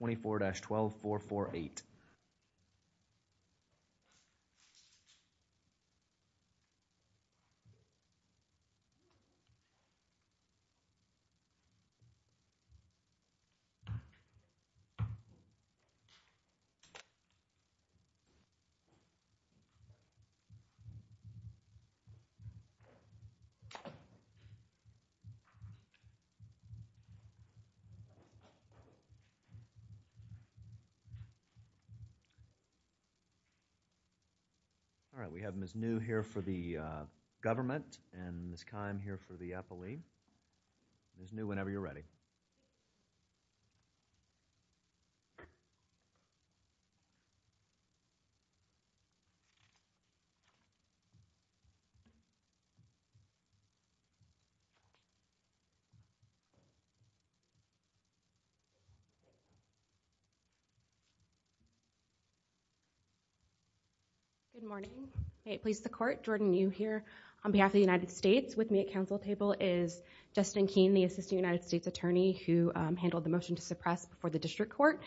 24-12 448 All right. We have Ms. Neu here for the government and Ms. Kime here for the appellee. Ms. Neu, good morning. It pleases the court. Jordan Neu here on behalf of the United States. With me at council table is Justin Keene, the assistant United States attorney who handled the motion to suppress before the district court.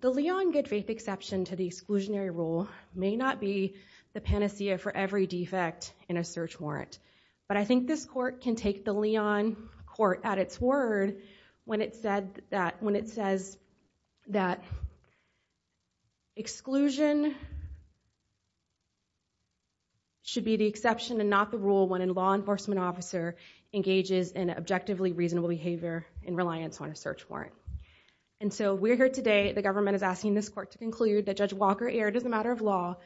The Leon good faith exception to the exclusionary rule may not be the panacea for every defect in a search warrant, but I think this court can take the Leon court at its word when it says that exclusion should be the exception and not the rule when a law enforcement officer engages in objectively reasonable behavior in reliance on a search warrant. And so we're here today, the government is asking this court to conclude that Judge Walker erred as a matter of law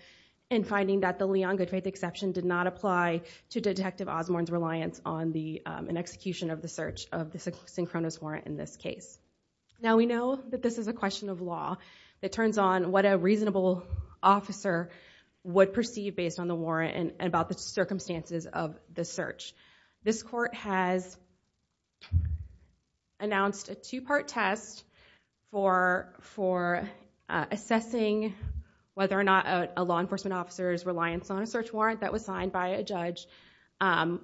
in finding that the Leon good faith exception did not apply to Detective Osborne's reliance on an execution of the search of the synchronous warrant in this case. Now we know that this is a question of law. It turns on what a reasonable officer would perceive based on the warrant and about the circumstances of the search. This court has announced a two-part test for assessing whether or not a law enforcement officer's reliance on a search warrant that was signed by a judge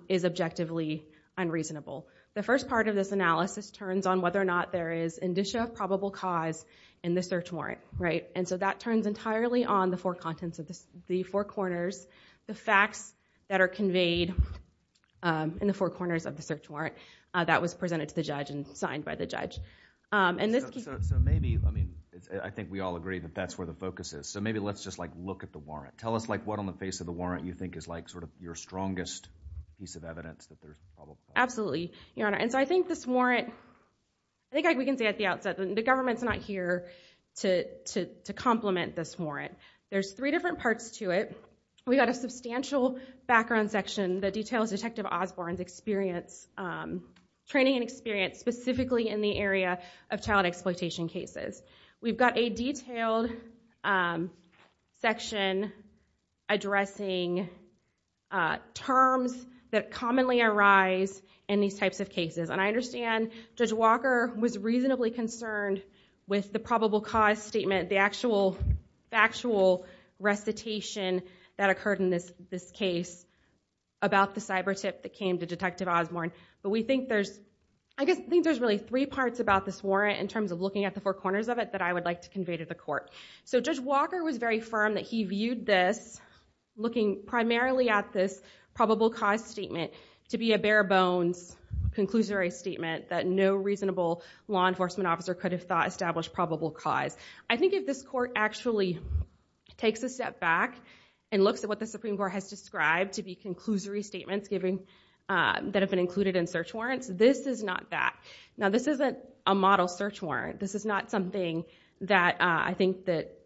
is objectively unreasonable. The first part of this analysis turns on whether or not there is indicia of probable cause in the search warrant, right? And so that turns entirely on the four corners, the facts that are conveyed in the four corners of the search warrant that was presented to the judge and signed by the judge. So maybe, I mean, I think we all agree that that's where the focus is. So maybe let's just like look at the warrant. Tell us like what on the face of the warrant you think is like sort of your strongest piece of evidence that there's a probable cause. Absolutely, your honor. And so I think this warrant, I think we can say at the outset that the government's not here to complement this warrant. There's three different parts to it. We got a substantial background section that details Detective Osborne's experience, training and experience specifically in the area of child exploitation cases. We've got a detailed section addressing terms that commonly arise in these types of cases. And I understand Judge Walker was reasonably concerned with the probable cause statement, the actual factual recitation that occurred in this case about the cyber tip that came to Detective Osborne. But we think there's, I guess, I think there's really three parts about this warrant in terms of looking at the four corners of it that I would like to convey to the court. So Judge Walker was very firm that he viewed this, looking primarily at this probable cause statement to be a bare bones, conclusory statement that no reasonable law enforcement officer could establish probable cause. I think if this court actually takes a step back and looks at what the Supreme Court has described to be conclusory statements that have been included in search warrants, this is not that. Now this isn't a model search warrant. This is not something that I think that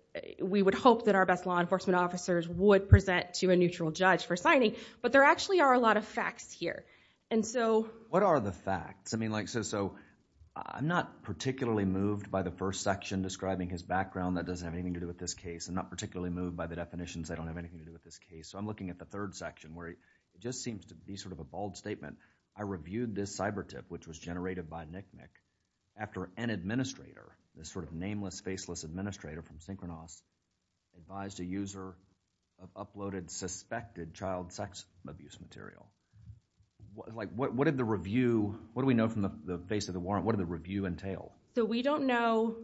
we would hope that our best law enforcement officers would present to a neutral judge for signing. But there actually are a lot of facts here. And so... What are the facts? I mean, like so I'm not particularly moved by the first section describing his background. That doesn't have anything to do with this case. I'm not particularly moved by the definitions that don't have anything to do with this case. So I'm looking at the third section where it just seems to be sort of a bald statement. I reviewed this cyber tip, which was generated by NCMEC, after an administrator, this sort of nameless, faceless administrator from Synchronos advised a user of uploaded suspected child sex abuse material. What did the review... What do we know from the face of the warrant? What did the review entail? So we don't know...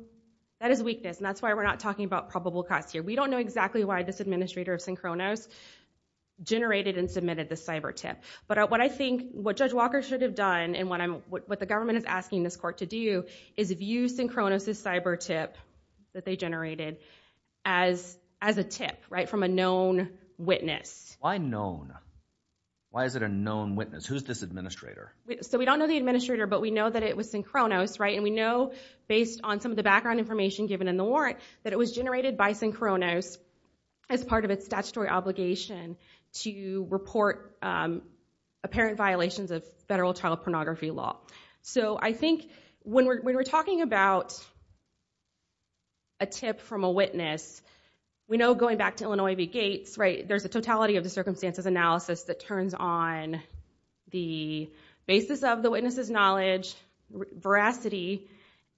That is weakness. And that's why we're not talking about probable costs here. We don't know exactly why this administrator of Synchronos generated and submitted the cyber tip. But what I think what Judge Walker should have done and what the government is asking this court to do is view Synchronos' cyber tip that they generated as a tip, right, from a known witness. Why known? Why is it a known witness? Who's this administrator? So we don't know the administrator, but we know that it was Synchronos, right? And we know based on some of the background information given in the warrant that it was generated by Synchronos as part of its statutory obligation to report apparent violations of federal child pornography law. So I think when we're talking about a tip from a witness, we know going back to Illinois v. Gates, right, there's a totality of the circumstances analysis that turns on the basis of the witness's knowledge, veracity,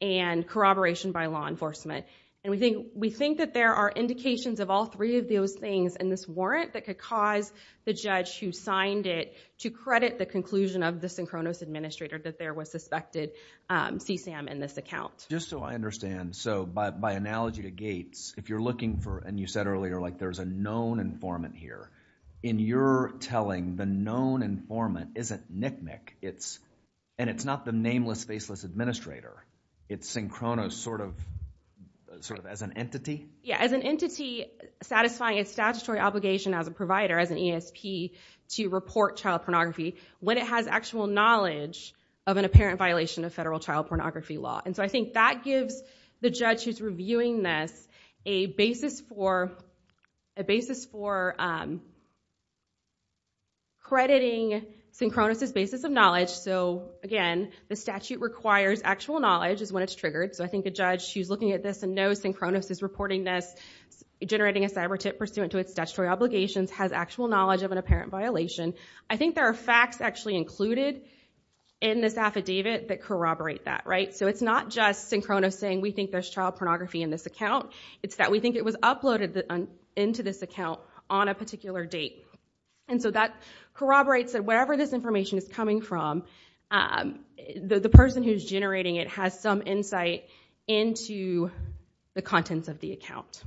and corroboration by law enforcement. And we think that there are indications of all three of those things in this warrant that could cause the judge who signed it to credit the conclusion of the Synchronos administrator that there was suspected CSAM in this account. Just so I understand, so by analogy to Gates, if you're looking for, and you said earlier, like there's a known informant here, in your telling, the known informant isn't Nick Nick, and it's not the nameless, faceless administrator. It's Synchronos sort of as an entity? Yeah, as an entity satisfying its statutory obligation as a provider, as an ESP, to report child pornography when it has actual knowledge of an apparent violation of federal child pornography law. And so I think that gives the judge who's reviewing this a basis for crediting Synchronos' basis of knowledge. So again, the statute requires actual knowledge is when it's triggered. So I think the judge who's looking at this and knows Synchronos is reporting this, generating a cyber tip pursuant to its statutory obligations, has actual knowledge of an apparent violation. I think there are facts actually included in this affidavit that corroborate that, right? So it's not just Synchronos saying, we think there's child pornography in this account. It's that we think it was uploaded into this account on a particular date. And so that corroborates that wherever this information is coming from, the person who's generating it has some insight into the contents of the account.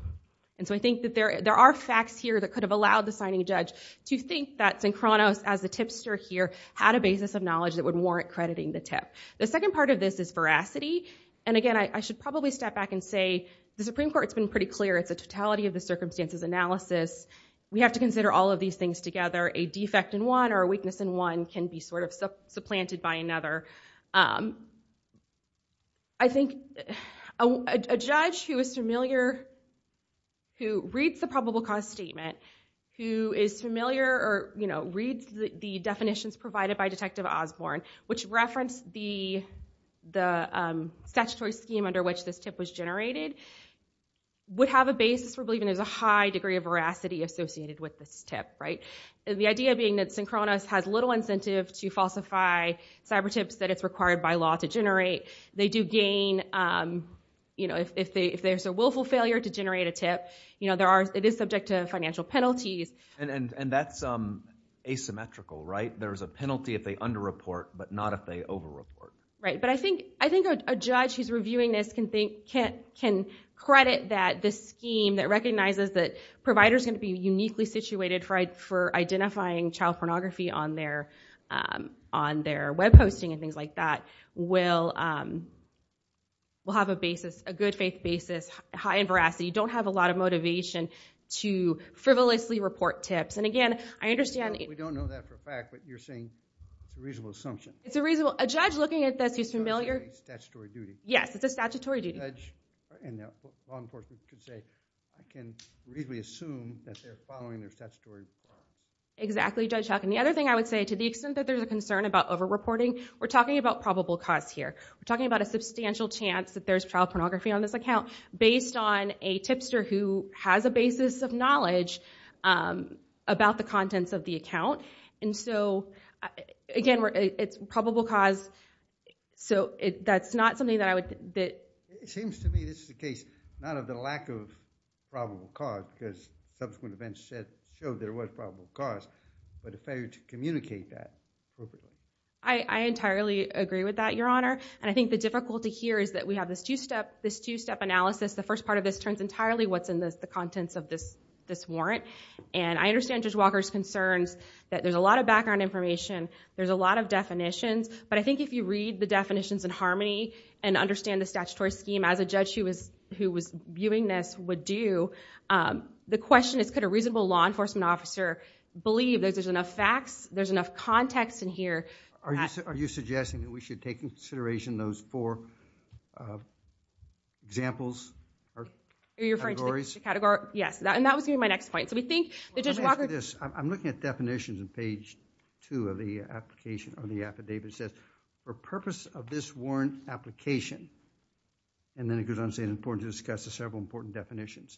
And so I think that there are facts here that could have allowed the signing judge to think that Synchronos, as the tipster here, had a basis of knowledge that would warrant crediting the tip. The second part of this is veracity. And again, I should probably step back and say the Supreme Court's been pretty clear. It's a totality of the circumstances analysis. We have to consider all of these things together. A defect in one or a weakness in one can be sort of supplanted by another. I think a judge who is familiar, who reads the probable cause statement, who is familiar or reads the definitions provided by Detective Osborne, which referenced the statutory scheme under which this tip was generated, would have a basis for believing there's a high degree of veracity associated with this tip, right? The idea being that Synchronos has little incentive to falsify cyber tips that it's required by law to generate. They do gain, if there's a willful failure to generate a tip, it is subject to financial penalties. And that's asymmetrical, right? There's a penalty if they under-report, but not if they over-report. Right, but I think a judge who's reviewing this can credit that this scheme that recognizes that providers are going to be uniquely situated for identifying child pornography on their web hosting and things like that, will have a good faith basis, high in veracity, don't have a lot of motivation to frivolously report tips. And again, I understand... We don't know that for a fact, but you're saying it's a reasonable assumption. It's a reasonable... A judge looking at this who's familiar... It's a statutory duty. Yes, it's a statutory duty. And the law enforcement can say, I can reasonably assume that they're following their statutory... Exactly, Judge Huck. And the other thing I would say, to the extent that there's a concern about over-reporting, we're talking about probable cause here. We're talking about a substantial chance that there's child pornography on this account based on a tipster who has a basis of knowledge about the contents of the account. And so, again, it's probable cause, so that's not something that I would... It seems to me this is the case, not of the lack of probable cause, because subsequent events showed there was probable cause, but a failure to communicate that. I entirely agree with that, Your Honor. And I think the difficulty here is that we have this two-step analysis. The first part of this turns entirely what's in the contents of this warrant. And I understand Judge Walker's concerns that there's a lot of background information, there's a lot of definitions. But I think if you read the definitions in harmony and understand the statutory scheme, as a judge who was viewing this would do, the question is, could a reasonable law enforcement officer believe that there's enough facts, there's enough context in here... Are you suggesting that we should take into consideration those four examples or categories? Are you referring to the categories? Yes. And that was going to be my next point. So we think that Judge Walker... Let me ask you this. I'm looking at definitions in page two of the application or the affidavit that says, for purpose of this warrant application, and then it goes on to say it's important to discuss the several important definitions.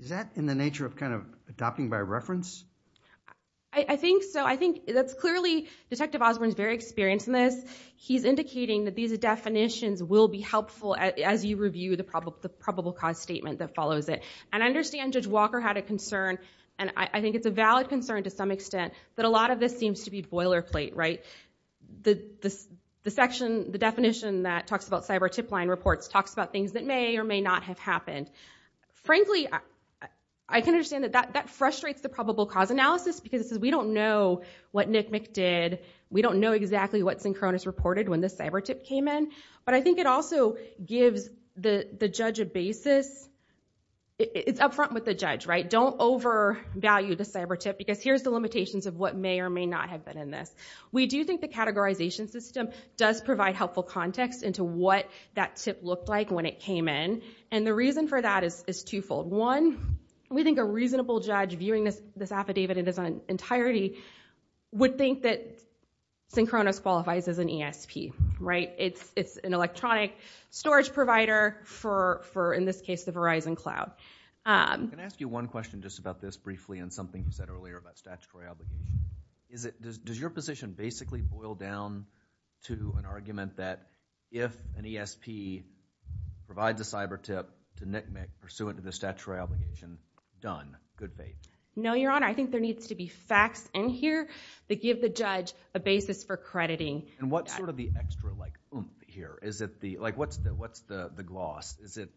Is that in the nature of kind of adopting by reference? I think so. I think that's clearly... Detective Osborne's very experienced in this. He's indicating that these definitions will be helpful as you review the probable cause statement that follows it. And I understand Judge Walker had a concern, and I think it's a valid concern to some extent, that a lot of this seems to be boilerplate, right? The section, the definition that talks about cyber tip line reports, talks about things that may or may not have happened. Frankly, I can understand that that frustrates the probable cause analysis because it says we don't know what NCMEC did. We don't know exactly what Synchronous reported when the cyber tip came in. But I think it also gives the judge a basis. It's upfront with the judge, right? Don't overvalue the cyber tip because here's the limitations of what may or may not have been in this. We do think the categorization system does provide helpful context into what that tip looked like when it came in. And the reason for that is twofold. One, we think a reasonable judge viewing this affidavit in its entirety would think that Synchronous qualifies as an ESP, right? It's an electronic storage provider for, in this case, the Verizon Cloud. Can I ask you one question just about this briefly and something you said earlier about statutory obligation? Does your position basically boil down to an argument that if an ESP provides a cyber tip to NCMEC pursuant to the statutory obligation, done, good faith? No, Your Honor. I think there needs to be facts in here that give the judge a basis for crediting. And what's sort of the extra, like, oomph here? What's the gloss? Is it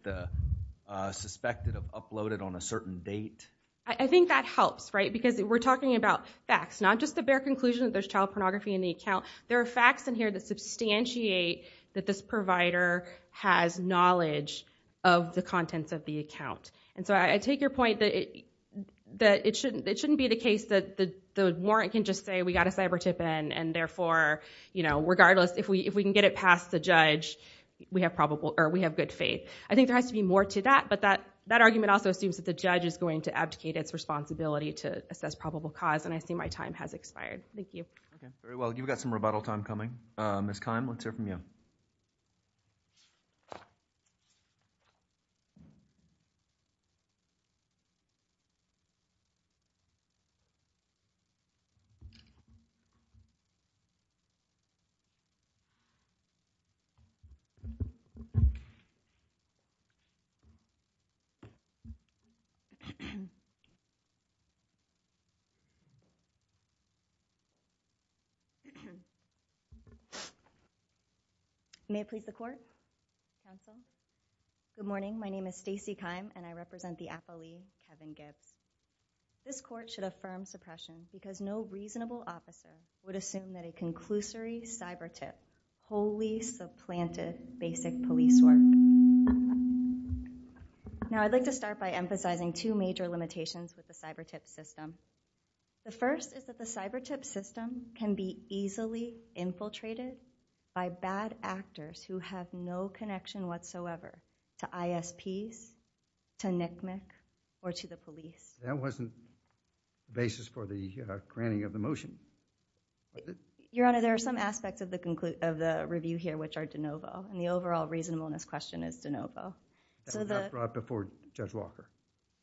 suspected of uploaded on a certain date? I think that helps, right? Because we're talking about facts, not just the bare conclusion that there's child pornography in the account. There are facts in here that substantiate that this provider has knowledge of the contents of the account. And so I take your point that it shouldn't be the case that the warrant can just say, we got a cyber tip in, and therefore, you know, regardless, if we can get it past the judge, we have probable, or we have good faith. I think there has to be more to that, but that argument also assumes that the judge is going to abdicate its responsibility to assess probable cause, and I see my time has expired. Thank you. Okay. Very well. You've got some rebuttal time coming. Ms. Kime, let's hear from you. May I please the court? Counsel? Good morning. My name is Stacey Kime, and I represent the affilee, Kevin Gibbs. This court should affirm suppression because no reasonable officer would assume that a conclusory cyber tip wholly supplanted basic police work. Now, I'd like to start by emphasizing two major limitations with the cyber tip system. The first is that the cyber tip system can be easily infiltrated by bad actors who have no connection whatsoever to ISPs, to NCMEC, or to the police. That wasn't the basis for the granting of the motion. Your Honor, there are some aspects of the review here which are de novo, and the overall reasonableness question is de novo. That was not brought before Judge Walker.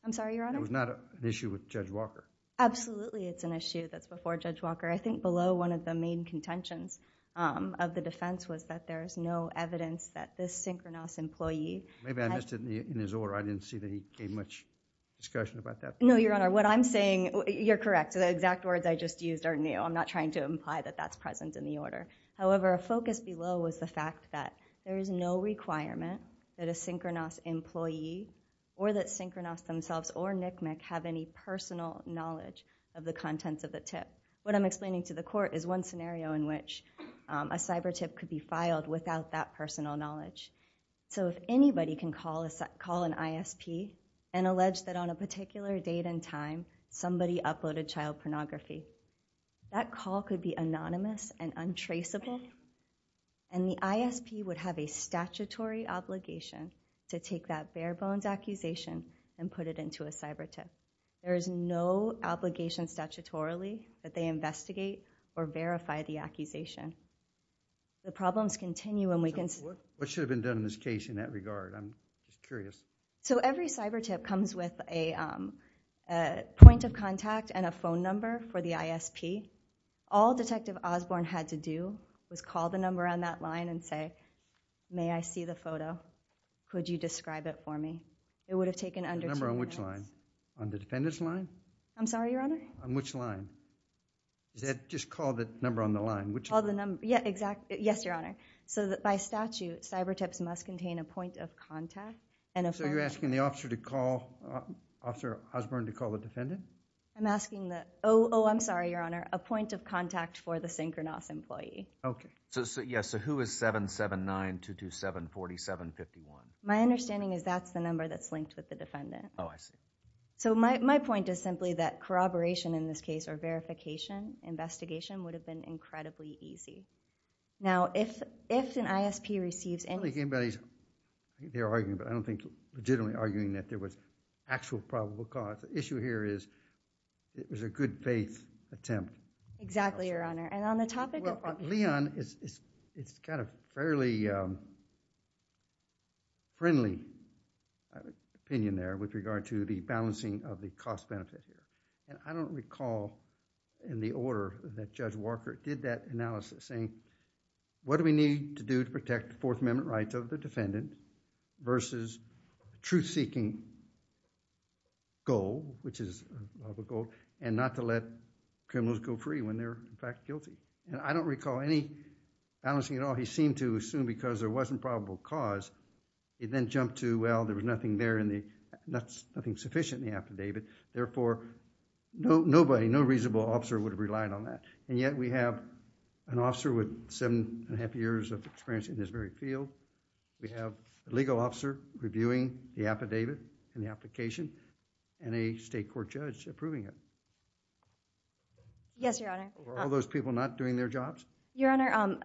I'm sorry, Your Honor? It was not an issue with Judge Walker. Absolutely, it's an issue that's before Judge Walker. I think below one of the main contentions of the defense was that there's no evidence that this synchronous employee... Maybe I missed it in his order. I didn't see that he gave much discussion about that. No, Your Honor. What I'm saying, you're correct. The exact words I just used are new. I'm not trying to imply that that's present in the order. However, a focus below was the fact that there is no requirement that a synchronous employee, or that synchronous themselves, or NCMEC have any personal knowledge of the contents of the tip. What I'm explaining to the court is one scenario in which a cyber tip could be filed without that personal knowledge. If anybody can call an ISP and allege that on a particular date and time somebody uploaded child pornography, that call could be anonymous and untraceable, and the ISP would have a statutory obligation to take that bare-bones accusation and put it into a cyber tip. There is no obligation statutorily that they investigate or verify the accusation. The problems continue and we can... What should have been done in this case in that regard? I'm curious. Every cyber tip comes with a point of contact and a phone number for the ISP. All Detective Osborne had to do was call the number on that line and say, may I see the photo? Could you describe it for me? It would have taken under two minutes. The number on which line? On the defendant's line? I'm sorry, Your Honor? On which line? Just call the number on the line. Yes, Your Honor. By statute, cyber tips must contain a point of contact and a phone number. So you're asking the officer to call, Officer Osborne, to call the defendant? I'm asking the... Oh, I'm sorry, Your Honor. A point of contact for the Synchronos employee. Okay. So who is 779-227-4751? My understanding is that's the number that's linked with the defendant. Oh, I see. So my point is simply that corroboration in this case or verification, investigation would have been incredibly easy. Now, if an ISP receives any... I don't think anybody's... They're arguing, but I don't think legitimately arguing that there was actual probable cause. The issue here is it was a good faith attempt. Exactly, Your Honor. And on the topic... Well, Leon, it's got a fairly friendly opinion there with regard to the balancing of the cost-benefit. I don't recall in the order that Judge Walker did that analysis saying, what do we need to do to protect the Fourth Amendment rights of the defendant versus truth-seeking goal, which is a goal, and not to let criminals go free when they're, in fact, guilty? And I don't recall any balancing at all. He seemed to assume because there wasn't probable cause. He then jumped to, well, there was nothing there and nothing sufficient in the affidavit. Therefore, nobody, no reasonable officer would have relied on that. And yet, we have an officer with seven and a half years of experience in this very field. We have a legal officer reviewing the affidavit and the application, and a state court judge approving it. Yes, Your Honor. Were all those people not doing their jobs? Your Honor,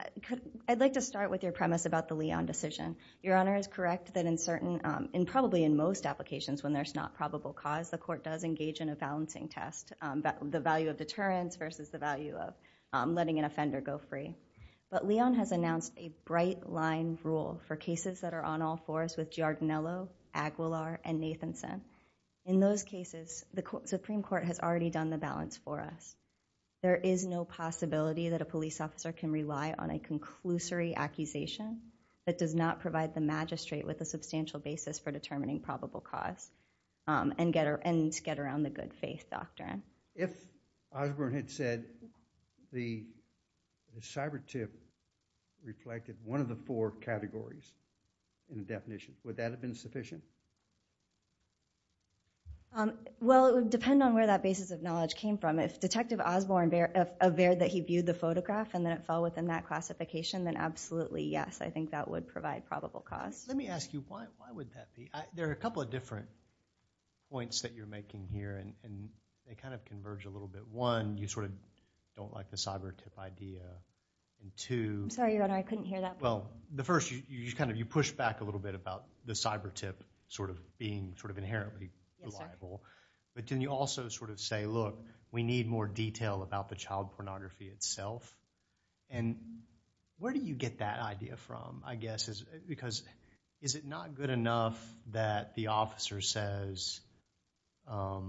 I'd like to start with your premise about the Leon decision. Your Honor is correct that in certain, in probably in most applications when there's not probable cause, the court does engage in a balancing test, the value of deterrence versus the value of letting an offender go free. But for cases that are on all fours with Giardinello, Aguilar, and Nathanson, in those cases, the Supreme Court has already done the balance for us. There is no possibility that a police officer can rely on a conclusory accusation that does not provide the magistrate with a substantial basis for determining probable cause and get around the good faith doctrine. If Osborne had said the cyber tip reflected one of the four categories in the definition, would that have been sufficient? Well, it would depend on where that basis of knowledge came from. If Detective Osborne averred that he viewed the photograph and then it fell within that classification, then absolutely yes, I think that would provide probable cause. Let me ask you, why would that be? There are a couple of different points that you're making here, and they kind of converge a little bit. One, you sort of don't like the cyber tip idea, and two... I'm sorry, Your Honor, I couldn't hear that. Well, the first, you kind of pushed back a little bit about the cyber tip sort of being sort of inherently reliable, but can you also sort of say, look, we need more detail about the child pornography itself? And where do you get that idea from, I guess, because is it not good enough that the officer says, let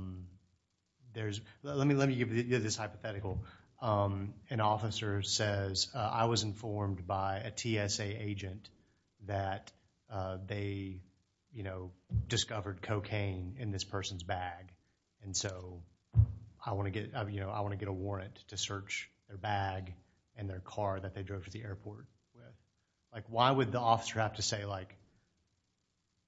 me give you this hypothetical. An officer says, I was informed by a TSA agent that they discovered cocaine in this person's bag, and so I want to get a warrant to search their bag and their car that they drove to the airport. Like, why would the officer have to say, like,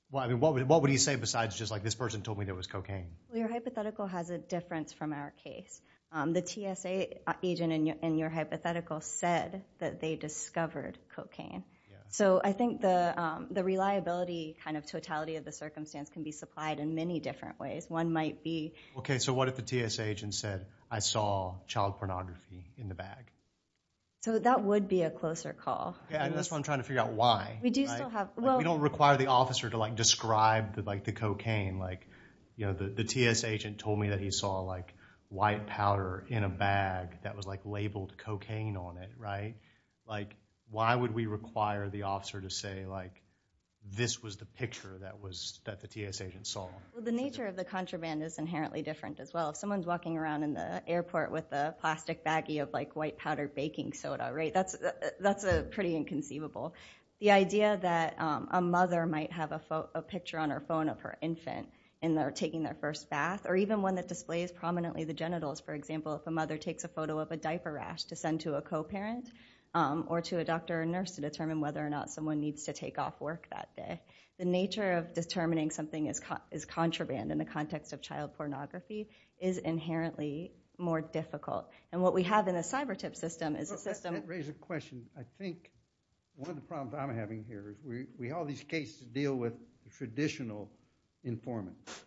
well, I mean, what would he say besides just, like, this person told me there was cocaine? Well, your hypothetical has a difference from our case. The TSA agent in your hypothetical said that they discovered cocaine. So I think the reliability kind of totality of the circumstance can be supplied in many different ways. One might be... Okay, so what if the TSA agent said, I saw child pornography in the bag? So that would be a closer call. Yeah, and that's what I'm trying to figure out. Why? We do still have... We don't require the officer to, like, describe the cocaine. Like, you know, the TSA agent told me that he saw, like, white powder in a bag that was, like, labeled cocaine on it, right? Like, why would we require the officer to say, like, this was the picture that the TSA agent saw? Well, the nature of the contraband is inherently different as well. If someone's walking around the airport with a plastic baggie of, like, white powder baking soda, right, that's pretty inconceivable. The idea that a mother might have a picture on her phone of her infant and they're taking their first bath, or even one that displays prominently the genitals, for example, if a mother takes a photo of a diaper rash to send to a co-parent or to a doctor or nurse to determine whether or not someone needs to take off work that day. The nature of determining something is contraband in the context of child pornography is inherently more difficult. And what we have in a cyber tip system is a system- That raises a question. I think one of the problems I'm having here is we have all these cases to deal with traditional informants.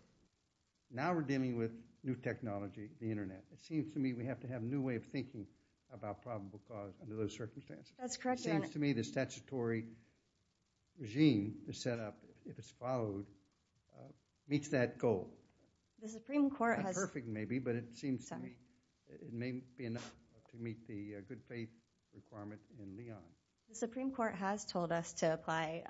Now we're dealing with new technology, the internet. It seems to me we have to have a new way of thinking about probable cause under those circumstances. That's correct, Your Honor. It seems to me the statutory regime is set up, if it's followed, meets that goal. The Supreme Court has- Not perfect, maybe, but it seems to me it may be enough to meet the good faith requirement in the law. The Supreme Court has told us to apply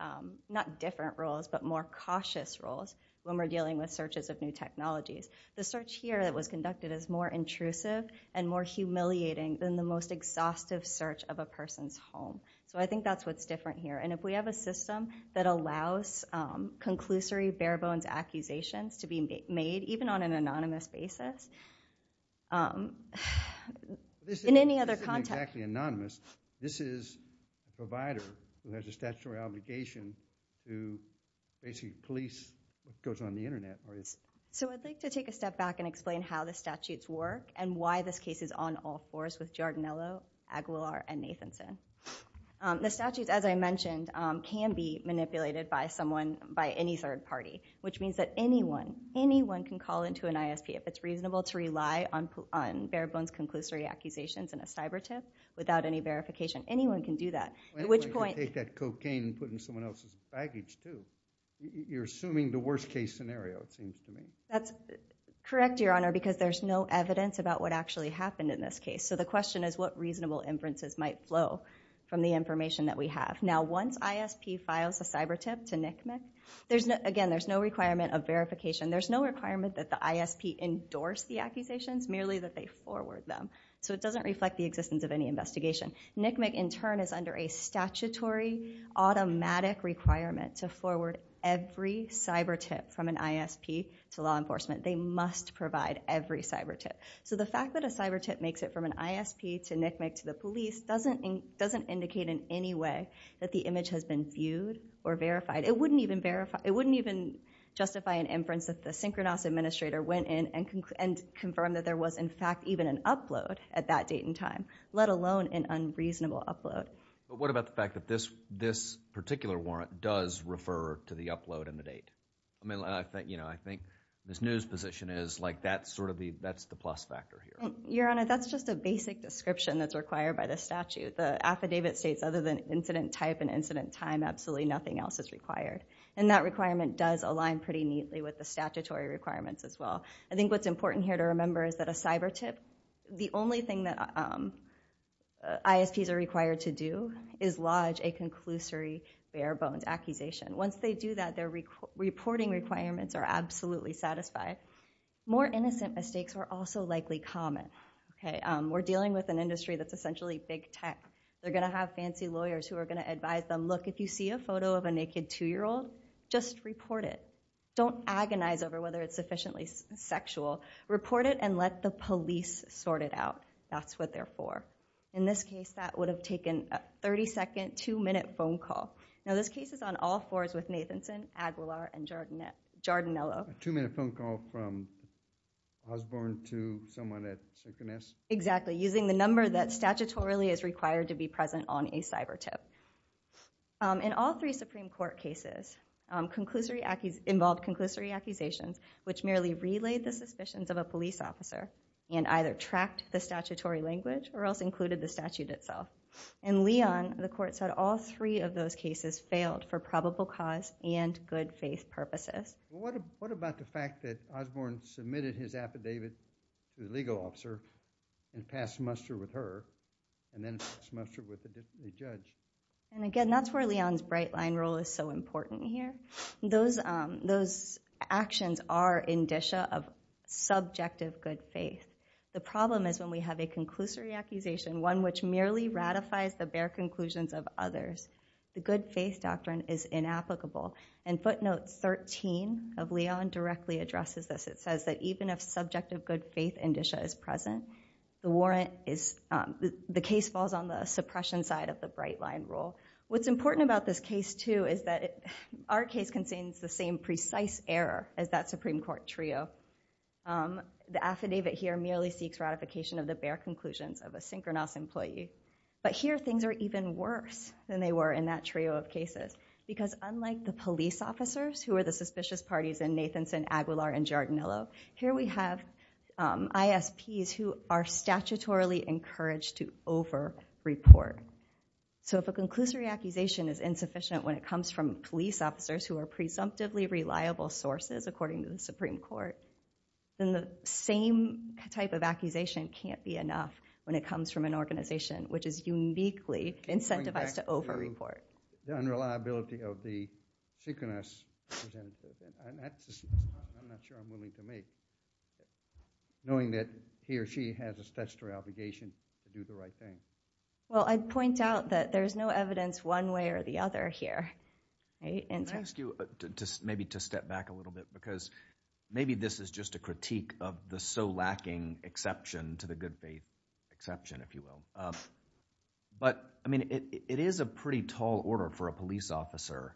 not different rules, but more cautious rules when we're dealing with searches of new technologies. The search here that was conducted is more intrusive and more humiliating than the most exhaustive search of a person's home. So I think that's what's different here. And if we have a system that allows conclusory, bare-bones accusations to be made, even on an anonymous basis, in any other context- This isn't exactly anonymous. This is a provider who has a statutory obligation to basically police what goes on the internet. So I'd like to take a step back and explain how the statutes work and why this case is on all fours with Giardinello, Aguilar, and Nathanson. The statutes, as I mentioned, can be manipulated by someone, by any third party, which means that anyone, anyone can call into an ISP if it's reasonable to rely on bare-bones conclusory accusations and a cyber tip without any verification. Anyone can do that. At which point- You can take that cocaine and put it in someone else's baggage, too. You're assuming the worst case scenario, it seems to me. That's correct, Your Honor, because there's no evidence about what actually happened in this case. So the question is what reasonable inferences might flow from the information that we have. Now once ISP files a cyber tip to NCMEC, again, there's no requirement of verification. There's no requirement that the ISP endorse the accusations, merely that they forward them. So it doesn't reflect the existence of any investigation. NCMEC in turn is under a statutory automatic requirement to forward every cyber tip from an ISP to law enforcement. They must provide every cyber tip. So the fact that a cyber tip makes it from an ISP to NCMEC to the police doesn't indicate in any way that the image has been viewed or verified. It wouldn't even justify an inference if the synchronous administrator went in and confirmed that there was, in fact, even an upload at that date and time, let alone an unreasonable upload. But what about the fact that this particular warrant does refer to the upload and the date? I think Ms. New's position is that's the plus factor here. Your Honor, that's just a basic description that's required by the statute. The affidavit states other than incident type and incident time, absolutely nothing else is required. And that requirement does align pretty neatly with the statutory requirements as well. I think what's important here to remember is that a cyber tip, the only thing that ISPs are required to do is lodge a conclusory bare bones accusation. Once they do that, their reporting requirements are absolutely satisfied. More innocent mistakes are also likely common. We're dealing with an industry that's essentially big tech. They're going to have fancy lawyers who are going to advise them, look, if you see a photo of a naked two-year-old, just report it. Don't agonize over whether it's sufficiently sexual. Report it and let the police sort it out. That's what they're for. In this case, that would have taken a 30-second, two-minute phone call. Now, this case is on all fours with Nathanson, Aguilar, and Giardinello. A two-minute phone call from Osborne to someone at CPS? Exactly. Using the number that statutorily is required to be present on a cyber tip. In all three Supreme Court cases, involved conclusory accusations, which merely relayed the suspicions of a police officer and either tracked the statutory language or else included the statute itself. In Leon, the court said all three of those cases failed for probable cause and good-faith purposes. What about the fact that Osborne submitted his affidavit to the legal officer and passed muster with her and then passed muster with a different judge? Again, that's where Leon's bright-line rule is so important here. Those actions are indicia of subjective good-faith. The problem is when we have a conclusory accusation, one which merely ratifies the bare conclusions of others, the good-faith doctrine is inapplicable. Footnote 13 of Leon directly addresses this. It says that even if subjective good-faith indicia is present, the case falls on the suppression side of the bright-line rule. What's important about this case, too, is that our case contains the same precise error as that Supreme Court trio. The affidavit here merely seeks ratification of the bare conclusions of a synchronous employee. But here, things are even worse than they were in that trio of cases because unlike the police officers who are the suspicious parties in Nathanson, Aguilar, and Giardinello, here we have ISPs who are statutorily encouraged to over-report. So if a conclusory accusation is insufficient when it comes from police officers who are consumptively reliable sources, according to the Supreme Court, then the same type of accusation can't be enough when it comes from an organization which is uniquely incentivized to over-report. The unreliability of the synchronous representative, I'm not sure I'm willing to make, knowing that he or she has a statutory obligation to do the right thing. Well, I'd point out that there's no evidence one way or the other here. I ask you maybe to step back a little bit because maybe this is just a critique of the so lacking exception to the good faith exception, if you will. But it is a pretty tall order for a police officer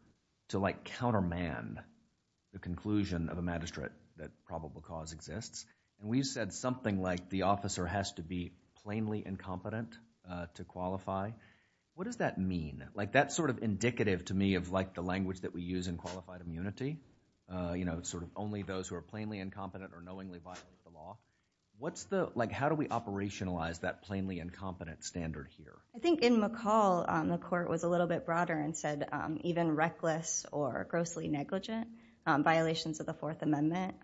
to countermand the conclusion of a magistrate that probable cause exists. We've said something like the officer has to be plainly incompetent to qualify. What does that mean? That's sort of indicative to me of the language that we use in qualified immunity, only those who are plainly incompetent or knowingly violate the law. How do we operationalize that plainly incompetent standard here? I think in McCall, the court was a little bit broader and said even reckless or grossly negligent violations of the Fourth Amendment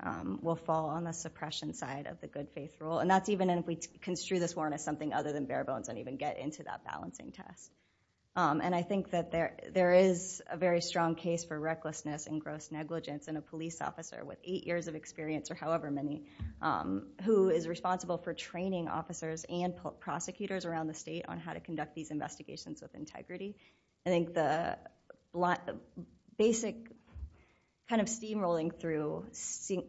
will fall on the suppression side of the good faith rule. And that's even if we construe this warrant as something other than bare of a balancing test. And I think that there is a very strong case for recklessness and gross negligence in a police officer with eight years of experience or however many who is responsible for training officers and prosecutors around the state on how to conduct these investigations with integrity. I think the basic kind of steamrolling through the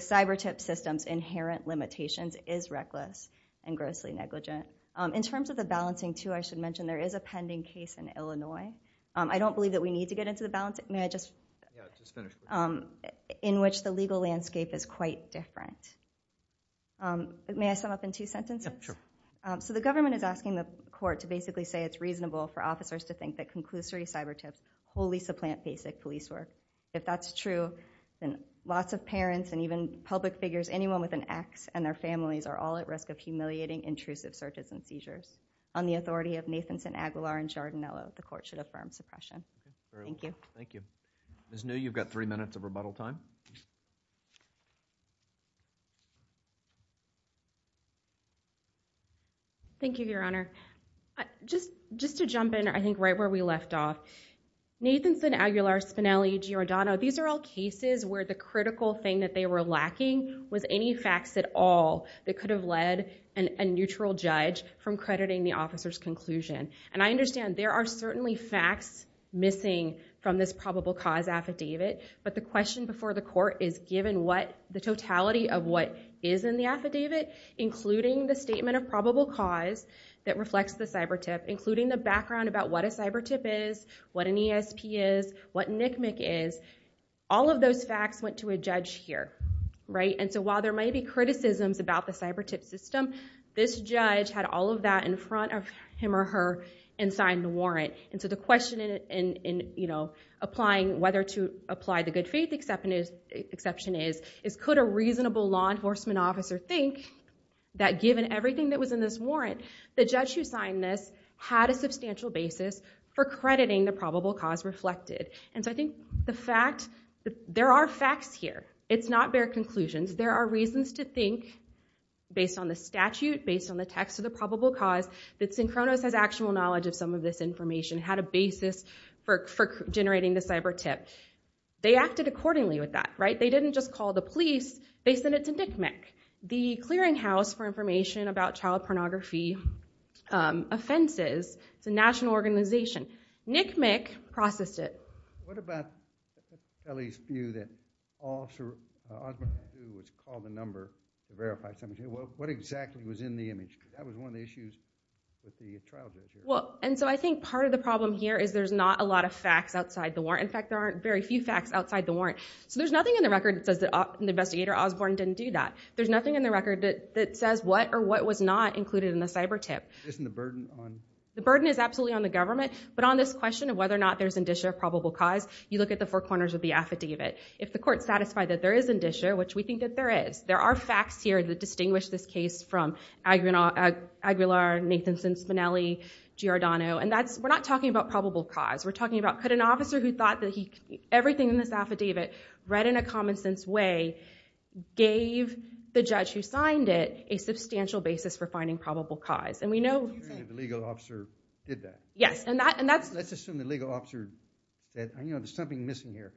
cyber tip system's inherent limitations is reckless and grossly negligent. In terms of the balancing too, I should mention there is a pending case in Illinois. I don't believe that we need to get into the balancing. May I just finish? In which the legal landscape is quite different. May I sum up in two sentences? Yeah, sure. So the government is asking the court to basically say it's reasonable for officers to think that conclusory cyber tips wholly supplant basic police work. If that's true, then lots of parents and even public figures, anyone with an ex and their families are all at risk of humiliating intrusive searches and seizures. On the authority of Nathanson, Aguilar, and Giordano, the court should affirm suppression. Thank you. Thank you. Ms. New, you've got three minutes of rebuttal time. Thank you, Your Honor. Just to jump in, I think right where we left off, Nathanson, Aguilar, Spinelli, Giordano, these are all cases where the critical thing that they were lacking was any facts at all that could have led a neutral judge from crediting the officer's conclusion. And I understand there are certainly facts missing from this probable cause affidavit, but the question before the court is given what the totality of what is in the affidavit, including the statement of probable cause that reflects the cyber tip, including the background about what a cyber tip is, what an ESP is, what NCMEC is. All of those facts went to a judge here. And so while there may be criticisms about the cyber tip system, this judge had all of that in front of him or her and signed the warrant. And so the question in applying whether to apply the good faith exception is, could a reasonable law enforcement officer think that given everything that was in this warrant, the judge who signed this had a substantial basis for crediting the probable cause reflected? And so I think the fact that there are facts here, it's not bare conclusions. There are reasons to think based on the statute, based on the text of the probable cause, that Synchronos has actual knowledge of some of this information, had a basis for generating the cyber tip. They acted accordingly with that, right? They didn't just call the police, they sent it to NCMEC, the Clearinghouse for Information about Child Pornography Offenses. It's a national organization. NCMEC processed it. What about Kelly's view that Officer Osborne was called the number to verify something? What exactly was in the image? That was one of the issues that the trial judge had. Well, and so I think part of the problem here is there's not a lot of facts outside the warrant. In fact, there aren't very few facts outside the warrant. So there's nothing in the record that says that investigator Osborne didn't do that. There's nothing in the record that says what or what was not included in the cyber tip. Isn't the burden on... The burden is absolutely on the government, but on this question of whether or not there's indicia of probable cause, you look at the four corners of the affidavit. If the court's satisfied that there is indicia, which we think that there is, there are facts here that distinguish this case from Aguilar, Nathanson, Spinelli, Giordano, and we're not talking about probable cause. We're talking about could an officer who thought that everything in this affidavit read in a common sense way, gave the judge who signed it a substantial basis for finding probable cause, and we know... You think the legal officer did that? Yes, and that's... Let's assume the legal officer said, you know, there's something missing here.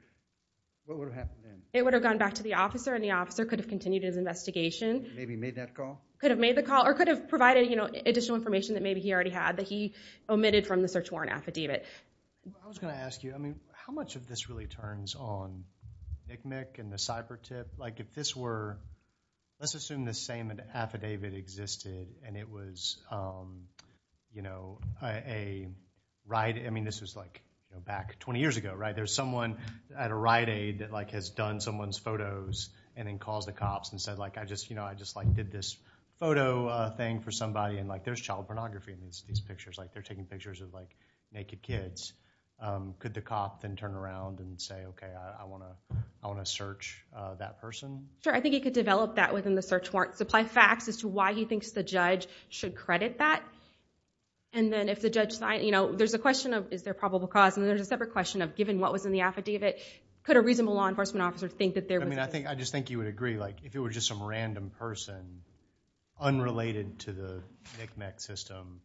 What would have happened then? It would have gone back to the officer, and the officer could have continued his investigation. Maybe made that call? Could have made the call or could have provided, you know, additional information that maybe he already had that he omitted from the search warrant affidavit. I was going to ask you, I mean, how much of this really turns on NCMEC and the cyber tip? If this were... Let's assume the same affidavit existed, and it was, you know, a riot... I mean, this was like back 20 years ago, right? There's someone at a riot aid that has done someone's photos and then calls the cops and said, I just did this photo thing for somebody, and there's child pornography in these pictures. They're taking pictures of naked kids. Could the cop then turn around and say, okay, I want to search that person? Sure, I think he could develop that within the search warrant. Supply facts as to why he thinks the judge should credit that. And then if the judge... You know, there's a question of, is there probable cause? And there's a separate question of, given what was in the affidavit, could a reasonable law enforcement officer think that there was... I mean, I think... I just think you would agree, like, if it was just some random person unrelated to the NCMEC system,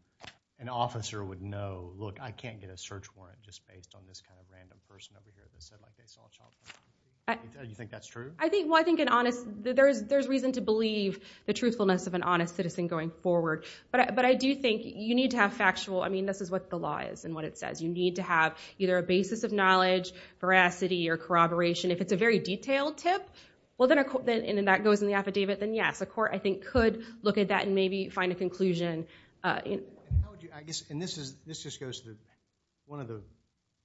an officer would know, look, I can't get a search warrant just based on this kind of random person over here that said, like, they saw child pornography. Do you think that's true? I think... Well, I think an honest... There's reason to believe the truthfulness of an honest citizen going forward, but I do think you need to have factual... I mean, this is what the law is and what it says. You need to have either a basis of knowledge, veracity, or corroboration. If it's a very detailed tip, and then that goes in the affidavit, then yes, a court, I think, could look at that and maybe find a conclusion. And how would you... I guess... And this just goes to one of the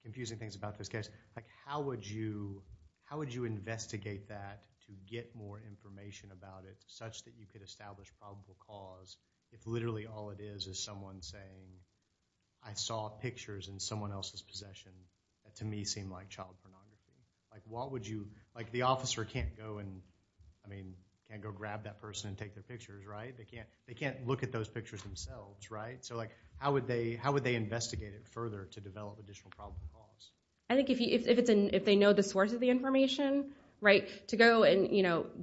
confusing things about this case. Like, how would you investigate that to get more information about it such that you could establish probable cause if literally all it is is someone saying, I saw pictures in someone else's possession that, to me, seemed like child pornography? Like, what would you... The officer can't go and, I mean, can't go grab that person and take their pictures, right? They can't look at those pictures themselves, right? So how would they investigate it further to develop additional probable cause? I think if they know the source of the information, right? To go and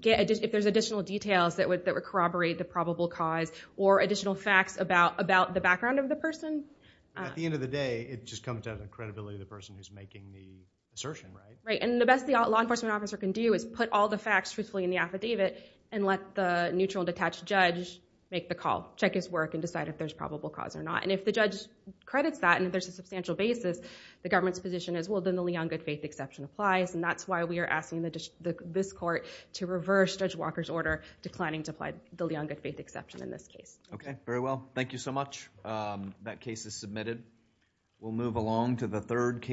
get... If there's additional details that would corroborate the probable cause or additional facts about the background of the person... At the end of the day, it just comes down to the credibility of the person who's making the assertion, right? Right. And the best the law enforcement officer can do is put all the facts truthfully in the affidavit and let the neutral, detached judge make the call, check his work, and decide if there's probable cause or not. And if the judge credits that and if there's a substantial basis, the government's position is, well, then the Leongood Faith Exception applies. And that's why we are asking this court to reverse Judge Walker's order declining to apply the Leongood Faith Exception in this case. Okay. Very well. Thank you so much. That case is submitted. We'll move along to the third case.